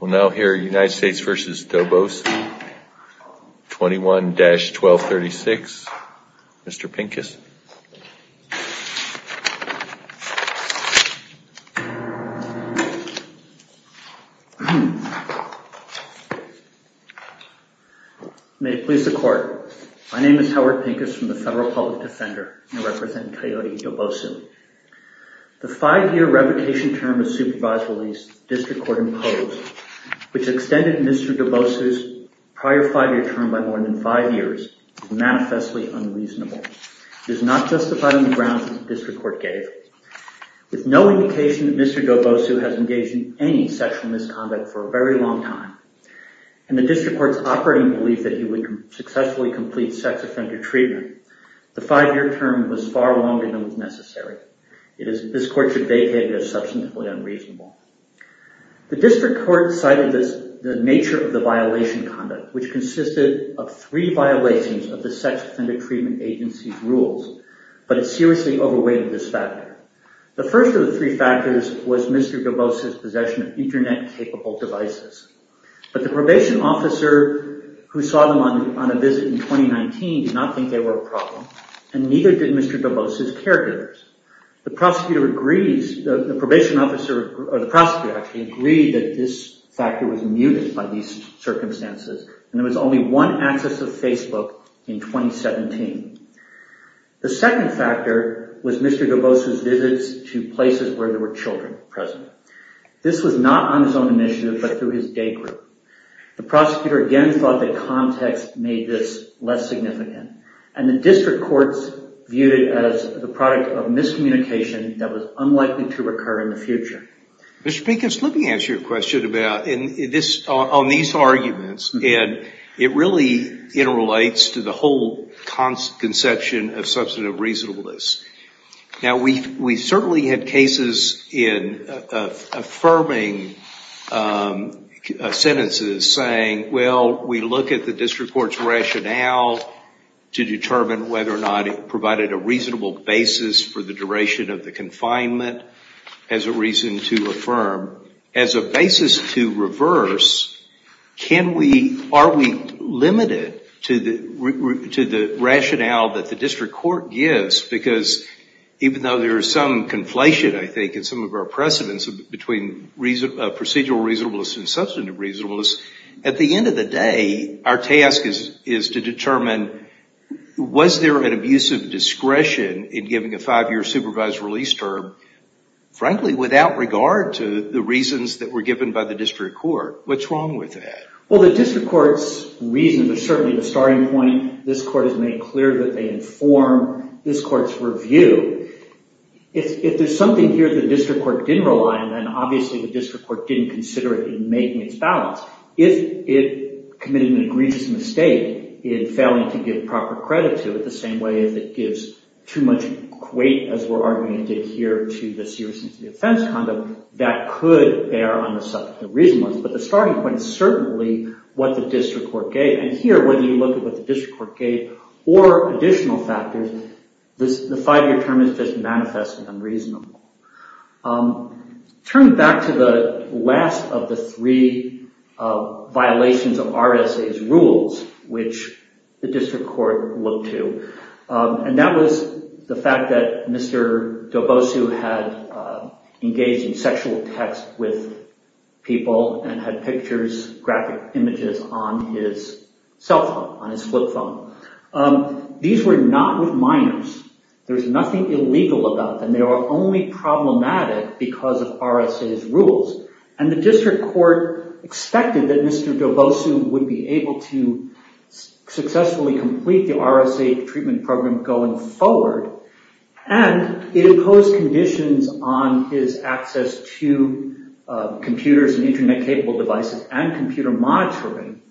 We'll now hear United States v. Dobosu, 21-1236, Mr. Pincus. May it please the court. My name is Howard Pincus from the Federal Public Defender. I represent Coyote Dobosu. The five-year revocation term of supervised release, the District Court imposed, which extended Mr. Dobosu's prior five-year term by more than five years, is manifestly unreasonable. It is not justified on the grounds that the District Court gave. With no indication that Mr. Dobosu has engaged in any sexual misconduct for a very long time, and the District Court's operating belief that he would successfully complete sex offender treatment, the five-year term was far longer than was necessary. This court should vacate it as substantively unreasonable. The District Court cited the nature of the violation conduct, which consisted of three violations of the Sex Offender Treatment Agency's rules, but it seriously overweighted this factor. The first of the three factors was Mr. Dobosu's possession of internet-capable devices, but the probation officer who saw them on a visit in 2019 did not think they were a problem, and neither did Mr. Dobosu's caregivers. The prosecutor agreed that this factor was muted by these circumstances, and there was only one access to Facebook in 2017. The second factor was Mr. Dobosu's visits to places where there were children present. This was not on his own initiative, but through his day group. The prosecutor again thought that context made this less significant, and the District Courts viewed it as the product of miscommunication that was unlikely to recur in the future. Mr. Pinkins, let me answer your question on these arguments, and it really interrelates to the whole conception of substantive reasonableness. Now, we certainly had cases in affirming sentences saying, well, we look at the District Court's rationale to determine whether or not it provided a reasonable basis for the duration of the confinement as a reason to affirm. As a basis to reverse, are we limited to the rationale that the District Court gives because even though there is some conflation, I think, in some of our precedence between procedural reasonableness and substantive reasonableness, at the end of the day, our task is to determine, was there an abuse of discretion in giving a five-year supervised release term, frankly, without regard to the reasons that were given by the District Court? What's wrong with that? Well, the District Court's reasons are certainly the starting point. This Court has made clear that they inform this Court's review. If there's something here the District Court didn't rely on, then obviously the District Court didn't consider it in making its balance. If it committed an egregious mistake in failing to give proper credit to it, the same way as it gives too much weight, as we're arguing it did here, to the seriousness of the offense conduct, that could bear on the subject of reasonableness. But the starting point is certainly what the District Court gave. And here, whether you look at what the District Court gave or additional factors, the five-year term is just manifest and unreasonable. Turning back to the last of the three violations of RSA's rules, which the District Court looked to, and that was the fact that Mr. Dobosu had engaged in sexual texts with people and had pictures, graphic images, on his cell phone, on his flip phone. These were not with minors. There's nothing illegal about them. They were only problematic because of RSA's rules. And the District Court expected that Mr. Dobosu would be able to successfully complete the RSA treatment program going forward, and it imposed conditions on his access to computers and internet-capable devices and computer monitoring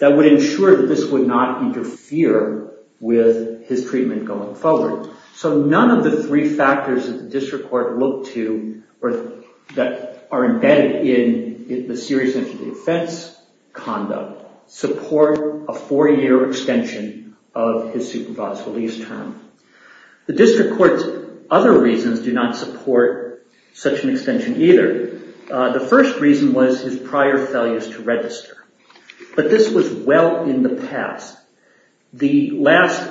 that would ensure that this would not interfere with his treatment going forward. So none of the three factors that the District Court looked to or that are embedded in the seriousness of the offense conduct support a four-year extension of his supervised release term. The District Court's other reasons do not support such an extension either. The first reason was his prior failures to register, but this was well in the past. The last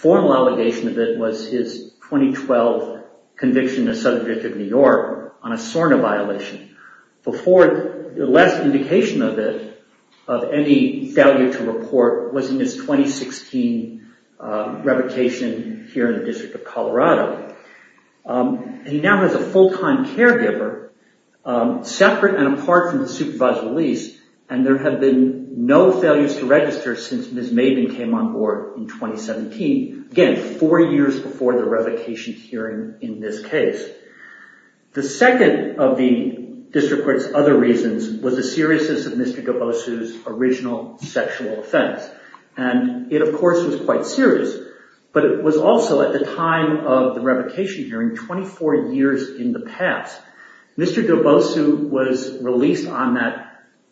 formal allegation of it was his 2012 conviction as subject of New York on a SORNA violation. Before, the last indication of it, of any failure to report, was in his 2016 revocation here in the District of Colorado. He now has a full-time caregiver, separate and apart from the supervised release, and there have been no failures to register since Ms. Maven came on board in 2017, again, four years before the revocation hearing in this case. The second of the District Court's other reasons was the seriousness of Mr. Dobosu's original sexual offense, and it, of course, was quite serious, but it was also, at the time of the revocation hearing, 24 years in the past. Mr. Dobosu was released on that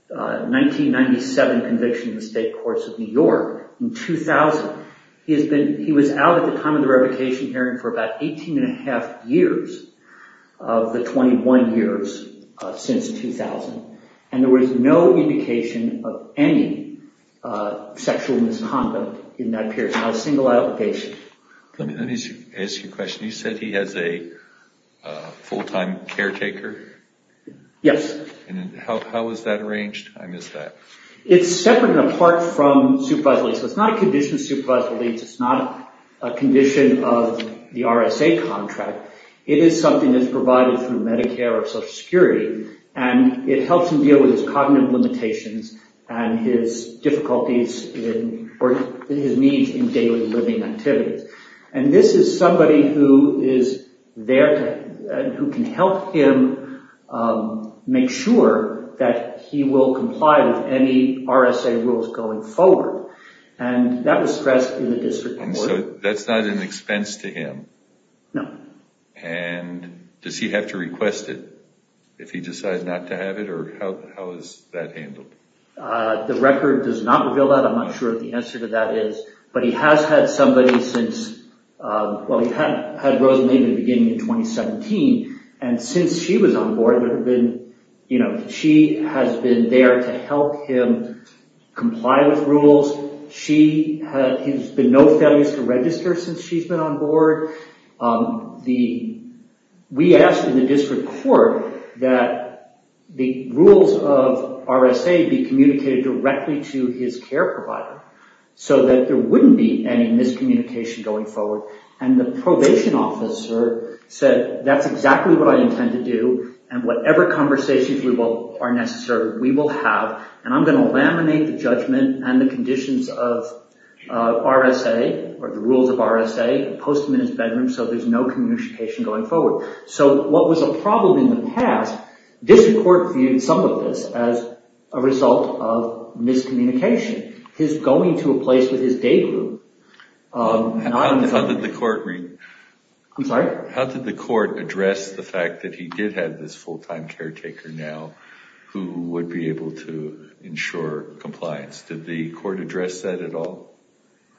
1997 conviction in the State Courts of New York in 2000. He was out at the time of the revocation hearing for about 18 and a half years of the 21 years since 2000, and there was no indication of any sexual misconduct in that period. Not a single allegation. Let me ask you a question. You said he has a full-time caretaker? Yes. How is that arranged? I missed that. It's separate and apart from supervised release. It's not a condition of supervised release. It's not a condition of the RSA contract. It is something that's provided through Medicare or Social Security, and it helps him deal with his cognitive limitations and his difficulties in, or his needs in daily living activities. And this is somebody who is there to, who can help him make sure that he will comply with any RSA rules going forward, and that was stressed in the District Court. And so that's not an expense to him? No. And does he have to request it if he decides not to have it, or how is that handled? The record does not reveal that. I'm not sure what the answer to that is. But he has had somebody since, well, he had Rosalind in the beginning of 2017, and since she was on board, there have been, you know, she has been there to help him comply with rules. She has been no failures to register since she's been on board. We asked in the District Court that the rules of RSA be communicated directly to his care provider, so that there wouldn't be any miscommunication going forward. And the probation officer said, that's exactly what I intend to do, and whatever conversations are necessary, we will have, and I'm going to laminate the judgment and the conditions of RSA, or the rules of RSA, and post them in his bedroom, so there's no communication going forward. So what was a problem in the past, the District Court viewed some of this as a result of miscommunication. His going to a place with his day group... How did the court read... I'm sorry? How did the court address the fact that he did have this full-time caretaker now, who would be able to ensure compliance? Did the court address that at all?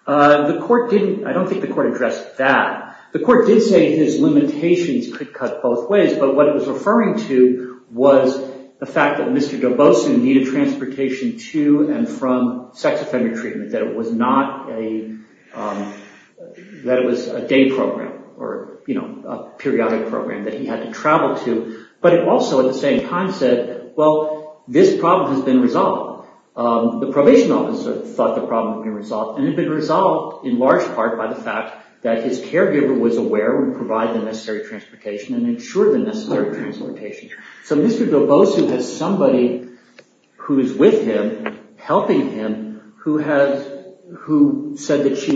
The court didn't... I don't think the court addressed that. The court did say his limitations could cut both ways, but what it was referring to was the fact that Mr. Dobosu needed transportation to and from sex offender treatment, that it was not a... that it was a day program, or, you know, a periodic program that he had to travel to. But it also, at the same time, said, well, this problem has been resolved. The probation officer thought the problem had been resolved, and it had been resolved, in large part, by the fact that his caregiver was aware and provided the necessary transportation and ensured the necessary transportation. So Mr. Dobosu has somebody who is with him, helping him, who said that she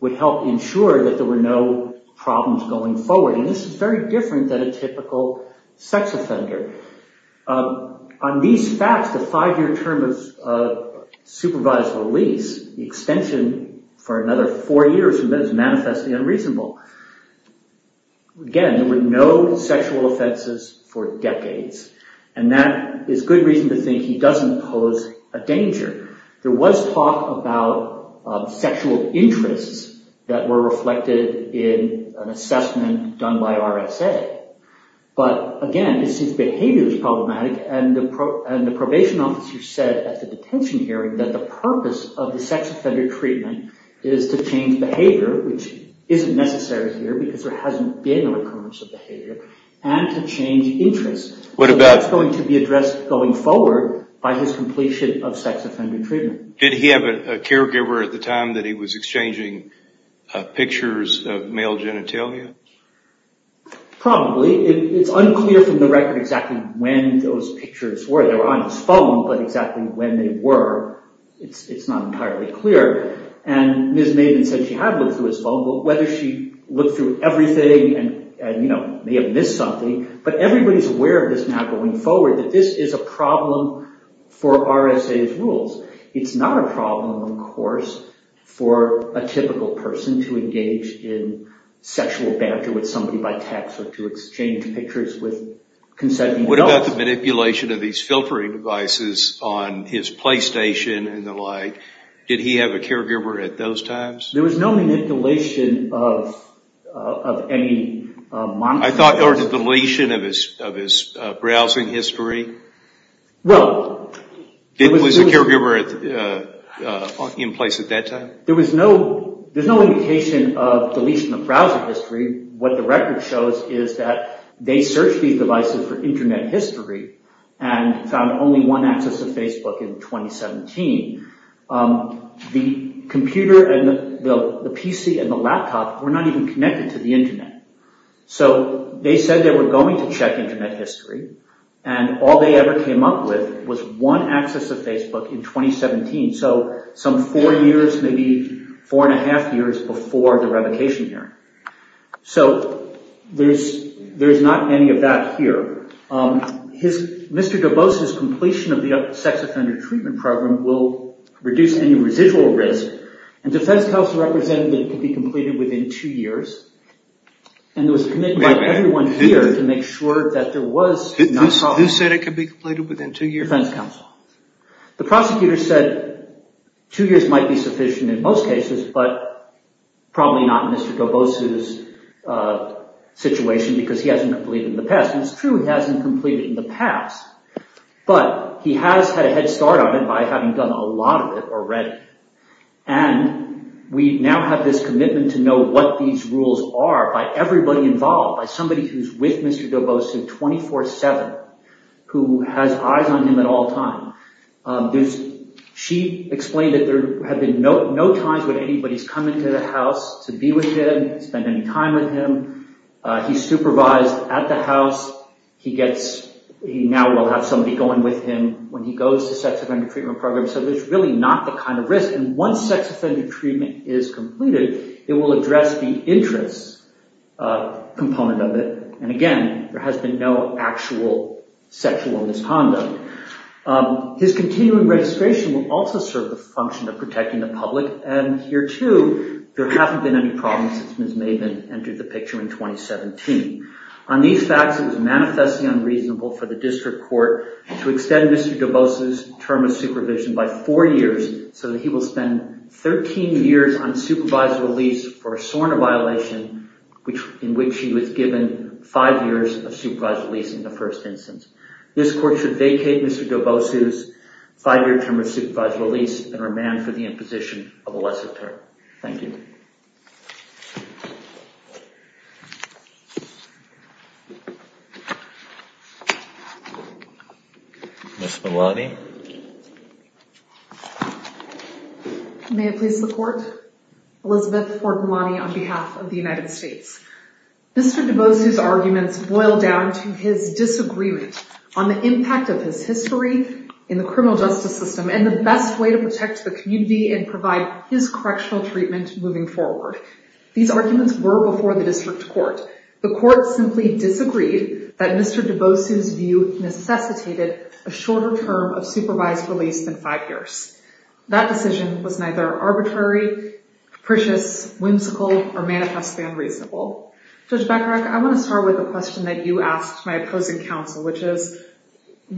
would help ensure that there were no problems going forward. And this is very different than a typical sex offender. On these facts, the five-year term of supervised release, the extension for another four years from then is manifestly unreasonable. Again, there were no sexual offenses for decades. And that is good reason to think he doesn't pose a danger. There was talk about sexual interests that were reflected in an assessment done by RSA. But, again, it seems behavior is problematic, and the probation officer said at the detention hearing that the purpose of the sex offender treatment is to change behavior, which isn't necessary here because there hasn't been a recurrence of behavior, and to change interests. So that's going to be addressed going forward by his completion of sex offender treatment. Did he have a caregiver at the time that he was exchanging pictures of male genitalia? Probably. It's unclear from the record exactly when those pictures were. They were on his phone, but exactly when they were, it's not entirely clear. And Ms. Maiden said she had looked through his phone, but whether she looked through everything and may have missed something, but everybody's aware of this now going forward, that this is a problem for RSA's rules. It's not a problem, of course, for a typical person to engage in sexual banter with somebody by text or to exchange pictures with consenting adults. What about the manipulation of these filtering devices on his PlayStation and the like? Did he have a caregiver at those times? There was no manipulation of any monitoring. I thought there was a deletion of his browsing history. Was a caregiver in place at that time? There was no indication of deletion of browser history. What the record shows is that they searched these devices for internet history and found only one access to Facebook in 2017. The computer and the PC and the laptop were not even connected to the internet. So they said they were going to check internet history and all they ever came up with was one access to Facebook in 2017. So some four years, maybe four and a half years before the revocation hearing. So there's not any of that here. Mr. Dubose's completion of the sex offender treatment program will reduce any residual risk and defense counsel representative can be completed within two years. And there was a commitment by everyone here to make sure that there was... Who said it could be completed within two years? Defense counsel. The prosecutor said two years might be sufficient in most cases but probably not in Mr. Dubose's situation because he hasn't completed in the past. And it's true he hasn't completed in the past. But he has had a head start on it by having done a lot of it already. And we now have this commitment to know what these rules are by everybody involved, by somebody who's with Mr. Dubose 24-7 who has eyes on him at all times. She explained that there have been no times when anybody's come into the house to be with him, spend any time with him. He's supervised at the house. He now will have somebody going with him when he goes to sex offender treatment program. So it's really not the kind of risk. And once sex offender treatment is completed, it will address the interest component of it. And again, there has been no actual sexual misconduct. His continuing registration will also serve the function of protecting the public and here too, there haven't been any problems since Ms. Maven entered the picture in 2017. On these facts, it was manifestly unreasonable for the district court to extend Mr. Dubose's term of supervision by four years so that he will spend 13 years on supervised release for a SORNA violation in which he was given five years of supervised release in the first instance. This court should vacate Mr. Dubose's five-year term of supervised release and remand for the imposition of a lesser term. Thank you. Ms. Malani. May it please the court. Elizabeth Ford Malani on behalf of the United States. Mr. Dubose's arguments boil down to his disagreement on the impact of his history in the criminal justice system and the best way to protect the community and provide his correctional treatment moving forward. These arguments were before the district court. The court simply disagreed that Mr. Dubose's view necessitated a shorter term of supervised release than five years. That decision was neither arbitrary, capricious, whimsical, or manifestly unreasonable. Judge Beckerach, I want to start with a question that you asked my opposing counsel which is,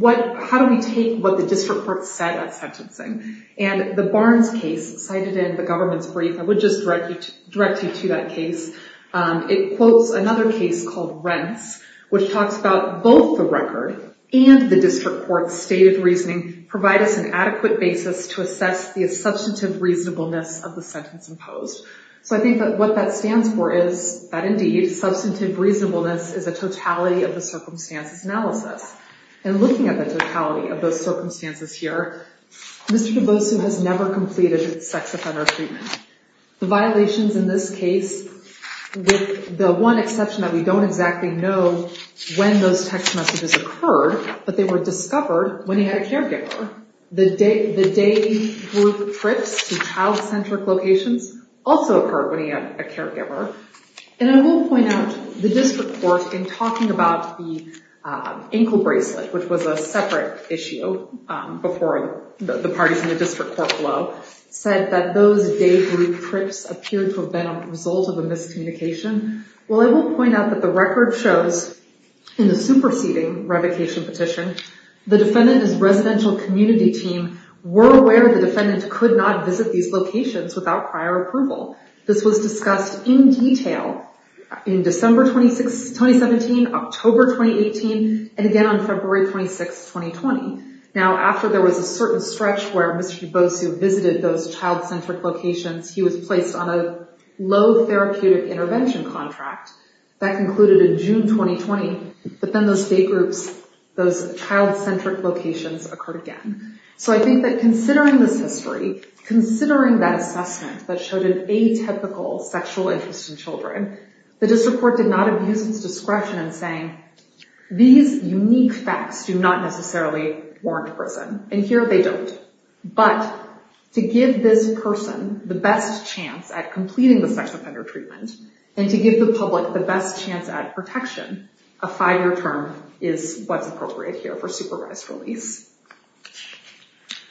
how do we take what the district court said at sentencing? And the Barnes case cited in the government's brief, I would just direct you to that case. It quotes another case called Rents, which talks about both the record and the district court's state of reasoning provide us an adequate basis to assess the substantive reasonableness of the sentence imposed. So I think that what that stands for is that indeed, substantive reasonableness is a totality of the circumstances analysis. And looking at the totality of those circumstances here, Mr. Dubose has never completed sex offender treatment. The violations in this case, with the one exception that we don't exactly know when those text messages occurred, but they were discovered when he had a caregiver. The day group trips to child-centric locations also occurred when he had a caregiver. And I will point out, the district court, in talking about the ankle bracelet, which was a separate issue before the parties in the district court below, said that those day group trips appeared to have been a result of a miscommunication. Well, I will point out that the record shows, in the superseding revocation petition, the defendant's residential community team were aware the defendant could not visit these locations without prior approval. This was discussed in detail in December 2017, October 2018, and again on February 26, 2020. Now, after there was a certain stretch where Mr. Dubose visited those child-centric locations, he was placed on a low therapeutic intervention contract. That concluded in June 2020. But then those day groups, those child-centric locations occurred again. So I think that considering this history, considering that assessment that showed an atypical sexual interest in children, the district court did not abuse its discretion in saying, these unique facts do not necessarily warrant prison. And here they don't. But to give this person the best chance at completing the sex offender treatment, and to give the public the best chance at protection, a five-year term is what's appropriate here for supervised release.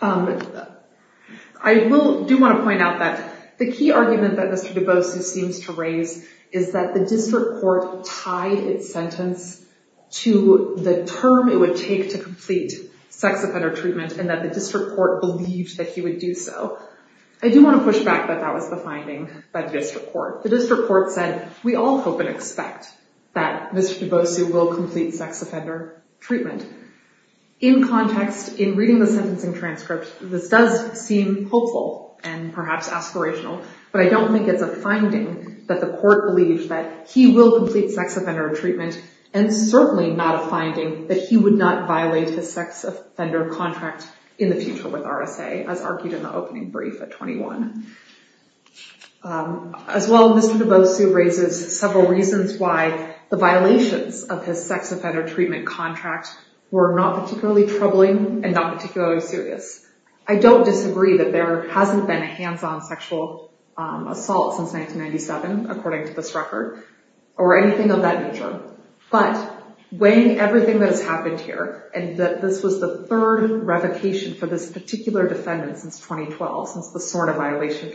I do want to point out that the key argument that Mr. Dubose seems to raise is that the district court tied its sentence to the term it would take to complete sex offender treatment, and that the district court believed that he would do so. I do want to push back that that was the finding by the district court. The district court said, we all hope and expect that Mr. Dubose will complete sex offender treatment. In context, in reading the sentencing transcript, this does seem hopeful and perhaps aspirational, but I don't think it's a finding that the court believes that he will complete sex offender treatment, and certainly not a finding that he would not violate his sex offender contract in the future with RSA, as argued in the opening brief at 21. As well, Mr. Dubose raises several reasons why the violations of his sex offender treatment contract were not particularly troubling and not particularly serious. I don't disagree that there hasn't been a hands-on sexual assault since 1997, according to this record, or anything of that nature. But weighing everything that has happened here, and that this was the third revocation for this particular defendant since 2012, since the SORNA violation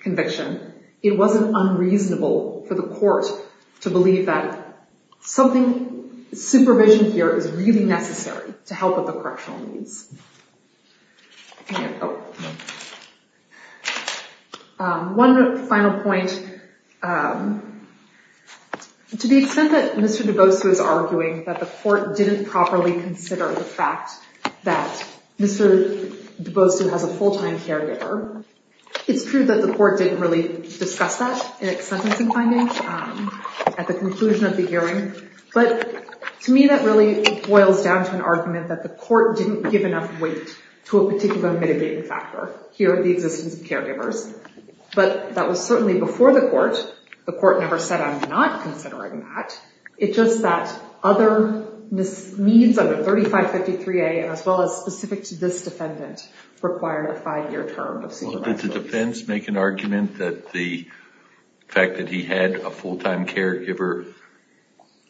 conviction, it wasn't unreasonable for the court to believe that supervision here is really necessary to help with the correctional needs. One final point. To the extent that Mr. Dubose was arguing that the court didn't properly consider the fact that Mr. Dubose has a full-time caregiver, it's true that the court didn't really discuss that in its sentencing findings at the conclusion of the hearing, but to me that really boils down to an argument that the court didn't give enough weight to a particular mitigating factor here in the existence of caregivers. But that was certainly before the court. The court never said, I'm not considering that. It's just that other needs under 3553A, as well as specific to this defendant, required a five-year term of supervised release. Did the defense make an argument that the fact that he had a full-time caregiver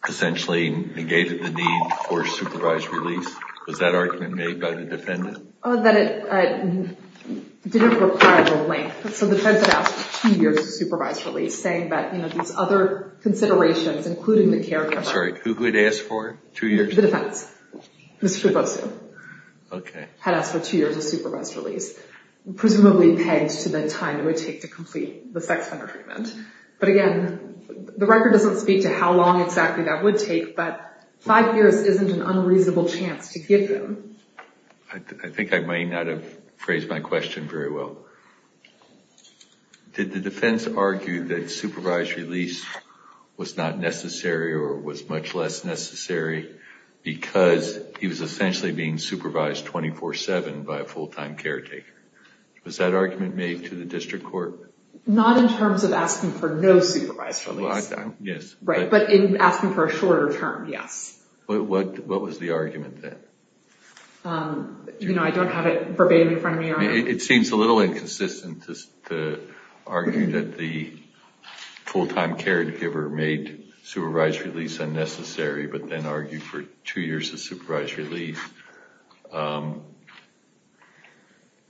essentially negated the need for supervised release? Was that argument made by the defendant? That it didn't require the length. So the defense had asked for two years of supervised release, saying that these other considerations, including the caregiver... I'm sorry, who had asked for two years? The defense. Mr. Dubose had asked for two years of supervised release. Presumably pegged to the time it would take to complete the sex offender treatment. But again, the record doesn't speak to how long exactly that would take, but five years isn't an unreasonable chance to give him. I think I may not have phrased my question very well. Did the defense argue that supervised release was not necessary or was much less necessary because he was essentially being supervised 24-7 by a full-time caretaker? Was that argument made to the district court? Not in terms of asking for no supervised release. But in asking for a shorter term, yes. What was the argument then? I don't have it verbatim in front of me. It seems a little inconsistent to argue that the full-time caregiver made supervised release unnecessary, but then argued for two years of supervised release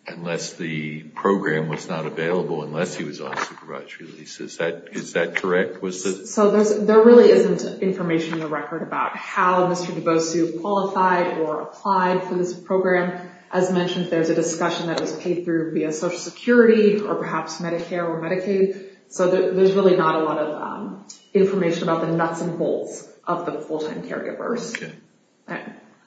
unless the program was not available, unless he was on supervised release. Is that correct? There really isn't information in the record about how Mr. DeBosu qualified or applied for this program. As mentioned, there's a discussion that was paid through via Social Security or perhaps Medicare or Medicaid. So there's really not a lot of information about the nuts and bolts of the full-time caregivers.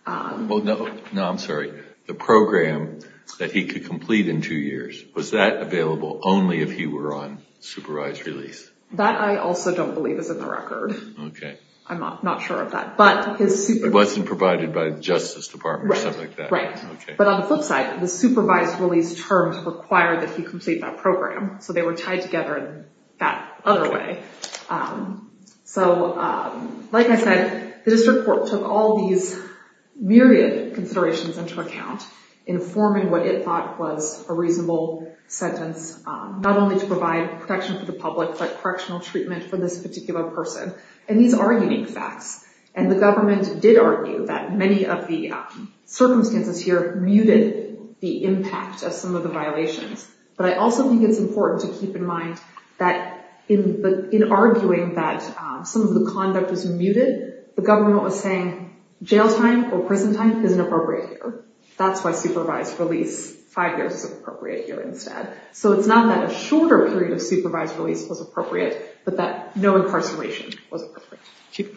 No, I'm sorry. The program that he could complete in two years, was that available only if he were on supervised release? That I also don't believe is in the record. I'm not sure of that. It wasn't provided by the Justice Department or something like that? Right. But on the flip side, the supervised release terms required that he complete that program. So they were tied together in that other way. Like I said, the district court took all these myriad considerations into account informing what it thought was a reasonable sentence not only to provide protection for the public but correctional treatment for this particular person. And these are unique facts. And the government did argue that many of the circumstances here muted the impact of some of the violations. But I also think it's important to keep in mind that in arguing that some of the conduct was muted the government was saying jail time or prison time isn't appropriate here. That's why supervised release five years is appropriate here instead. So it's not that a shorter period of supervised release was appropriate but that no incarceration was appropriate. Thank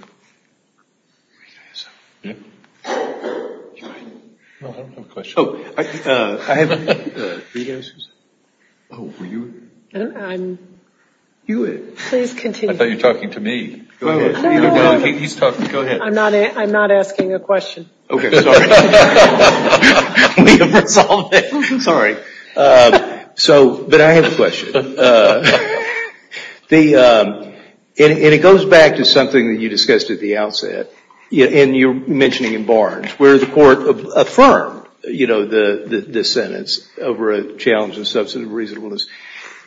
you. I don't have a question. Oh, I have a question. Oh, were you? I thought you were talking to me. Go ahead. I'm not asking a question. Sorry. But I have a question. And it goes back to something that you discussed at the outset and you were mentioning in Barnes where the court affirmed the sentence over a challenge of substantive reasonableness.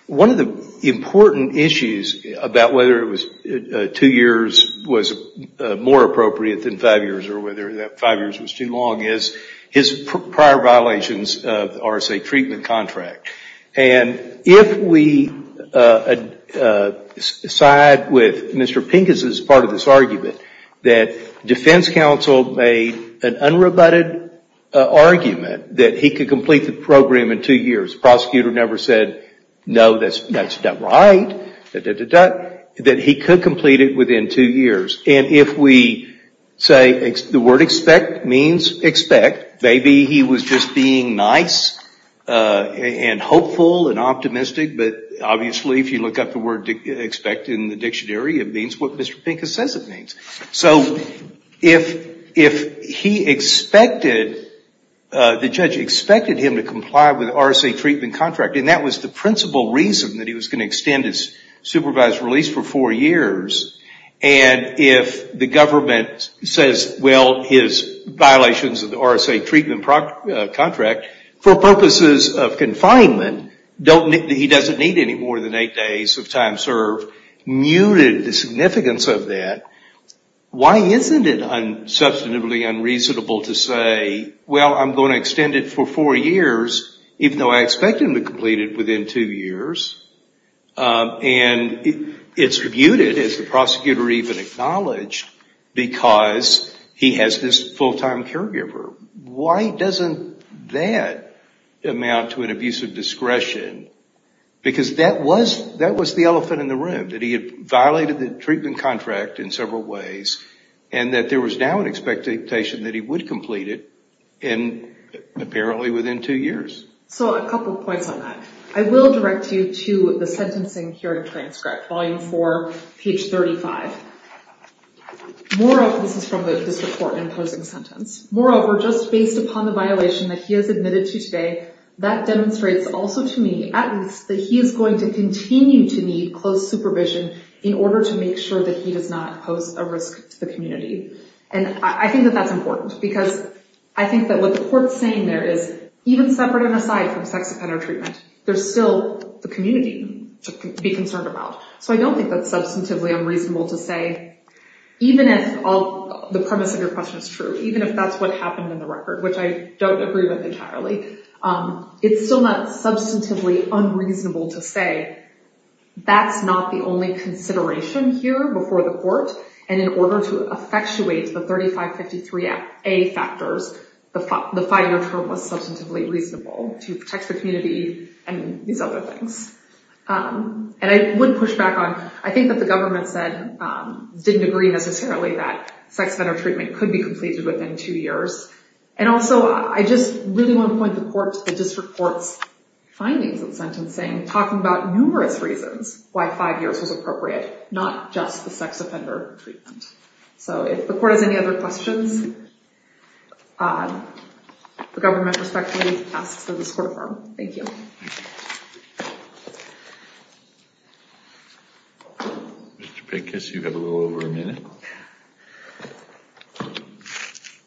One of the important issues about whether two years was more appropriate than five years or whether five years was too long is his prior violations of the RSA treatment contract. And if we side with Mr. Pincus' part of this argument that defense counsel made an unrebutted argument that he could complete the program in two years prosecutor never said no, that's not right that he could complete it within two years and if we say the word expect means expect maybe he was just being nice and hopeful and optimistic but obviously if you look up the word expect in the dictionary it means what Mr. Pincus says it means. So if he expected the judge expected him to comply with the RSA treatment contract and that was the principal reason that he was going to extend his supervised release for four years and if the government says well his violations of the RSA treatment contract for purposes of confinement he doesn't need any more than eight days of time served muted the significance of that why isn't it substantively unreasonable to say well I'm going to extend it for four years even though I expect him to complete it within two years and it's muted as the prosecutor even acknowledged because he has this full time caregiver why doesn't that amount to an abuse of discretion because that was the elephant in the room that he had violated the treatment contract in several ways and that there was now an expectation that he would complete it apparently within two years so a couple points on that I will direct you to the sentencing hearing transcript volume 4 page 35 this is from the district court imposing sentence moreover just based upon the violation that he has admitted to today that demonstrates also to me that he is going to continue to need close supervision in order to make sure that he does not pose a risk to the community and I think that that's important because I think that what the court's saying there is even separate and aside from sex offender treatment there's still the community to be concerned about so I don't think that's substantively unreasonable to say even if the premise of your question is true even if that's what happened in the record which I don't agree with entirely it's still not substantively unreasonable to say that's not the only consideration here before the court and in order to effectuate the 3553A factors the five-year term was substantively reasonable to protect the community and these other things and I would push back on I think that the government said didn't agree necessarily that sex offender treatment could be completed within two years and also I just really want to point the court to the district court's findings of sentencing talking about numerous reasons why five years was appropriate not just the sex offender treatment so if the court has any other questions the government respectfully asks that this court affirm thank you Mr. Pankis you have a little over a minute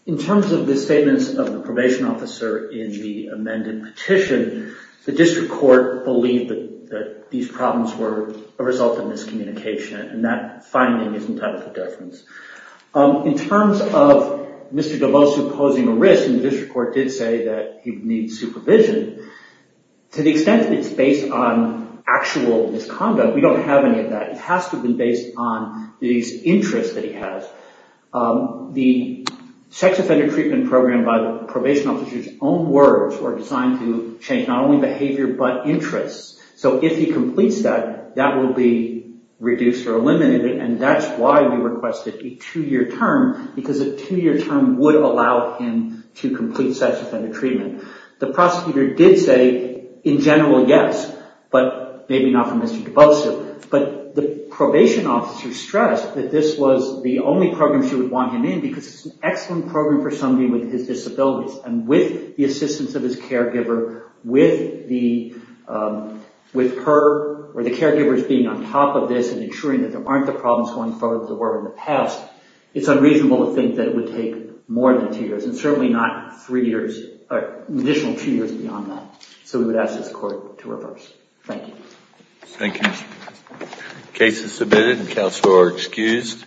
in terms of the statements of the probation officer in the amended petition the district court believed that these problems were a result of miscommunication and that finding isn't out of the deference in terms of Mr. Devosu posing a risk and the district court did say that he needs supervision to the extent that it's based on actual misconduct we don't have any of that it has to be based on these interests that he has the sex offender treatment program by the probation officer's own words were designed to change not only behavior but interests so if he completes that, that will be reduced or eliminated and that's why we requested a two-year term because a two-year term would allow him to complete sex offender treatment the prosecutor did say, in general, yes but maybe not from Mr. Devosu but the probation officer stressed that this was the only program she would want him in because it's an excellent program for somebody with disabilities and with the assistance of his caregiver with her or the caregivers being on top of this and ensuring that there aren't the problems that there were in the past it's unreasonable to think that it would take more than two years and certainly not an additional two years beyond that so we would ask this court to reverse Thank you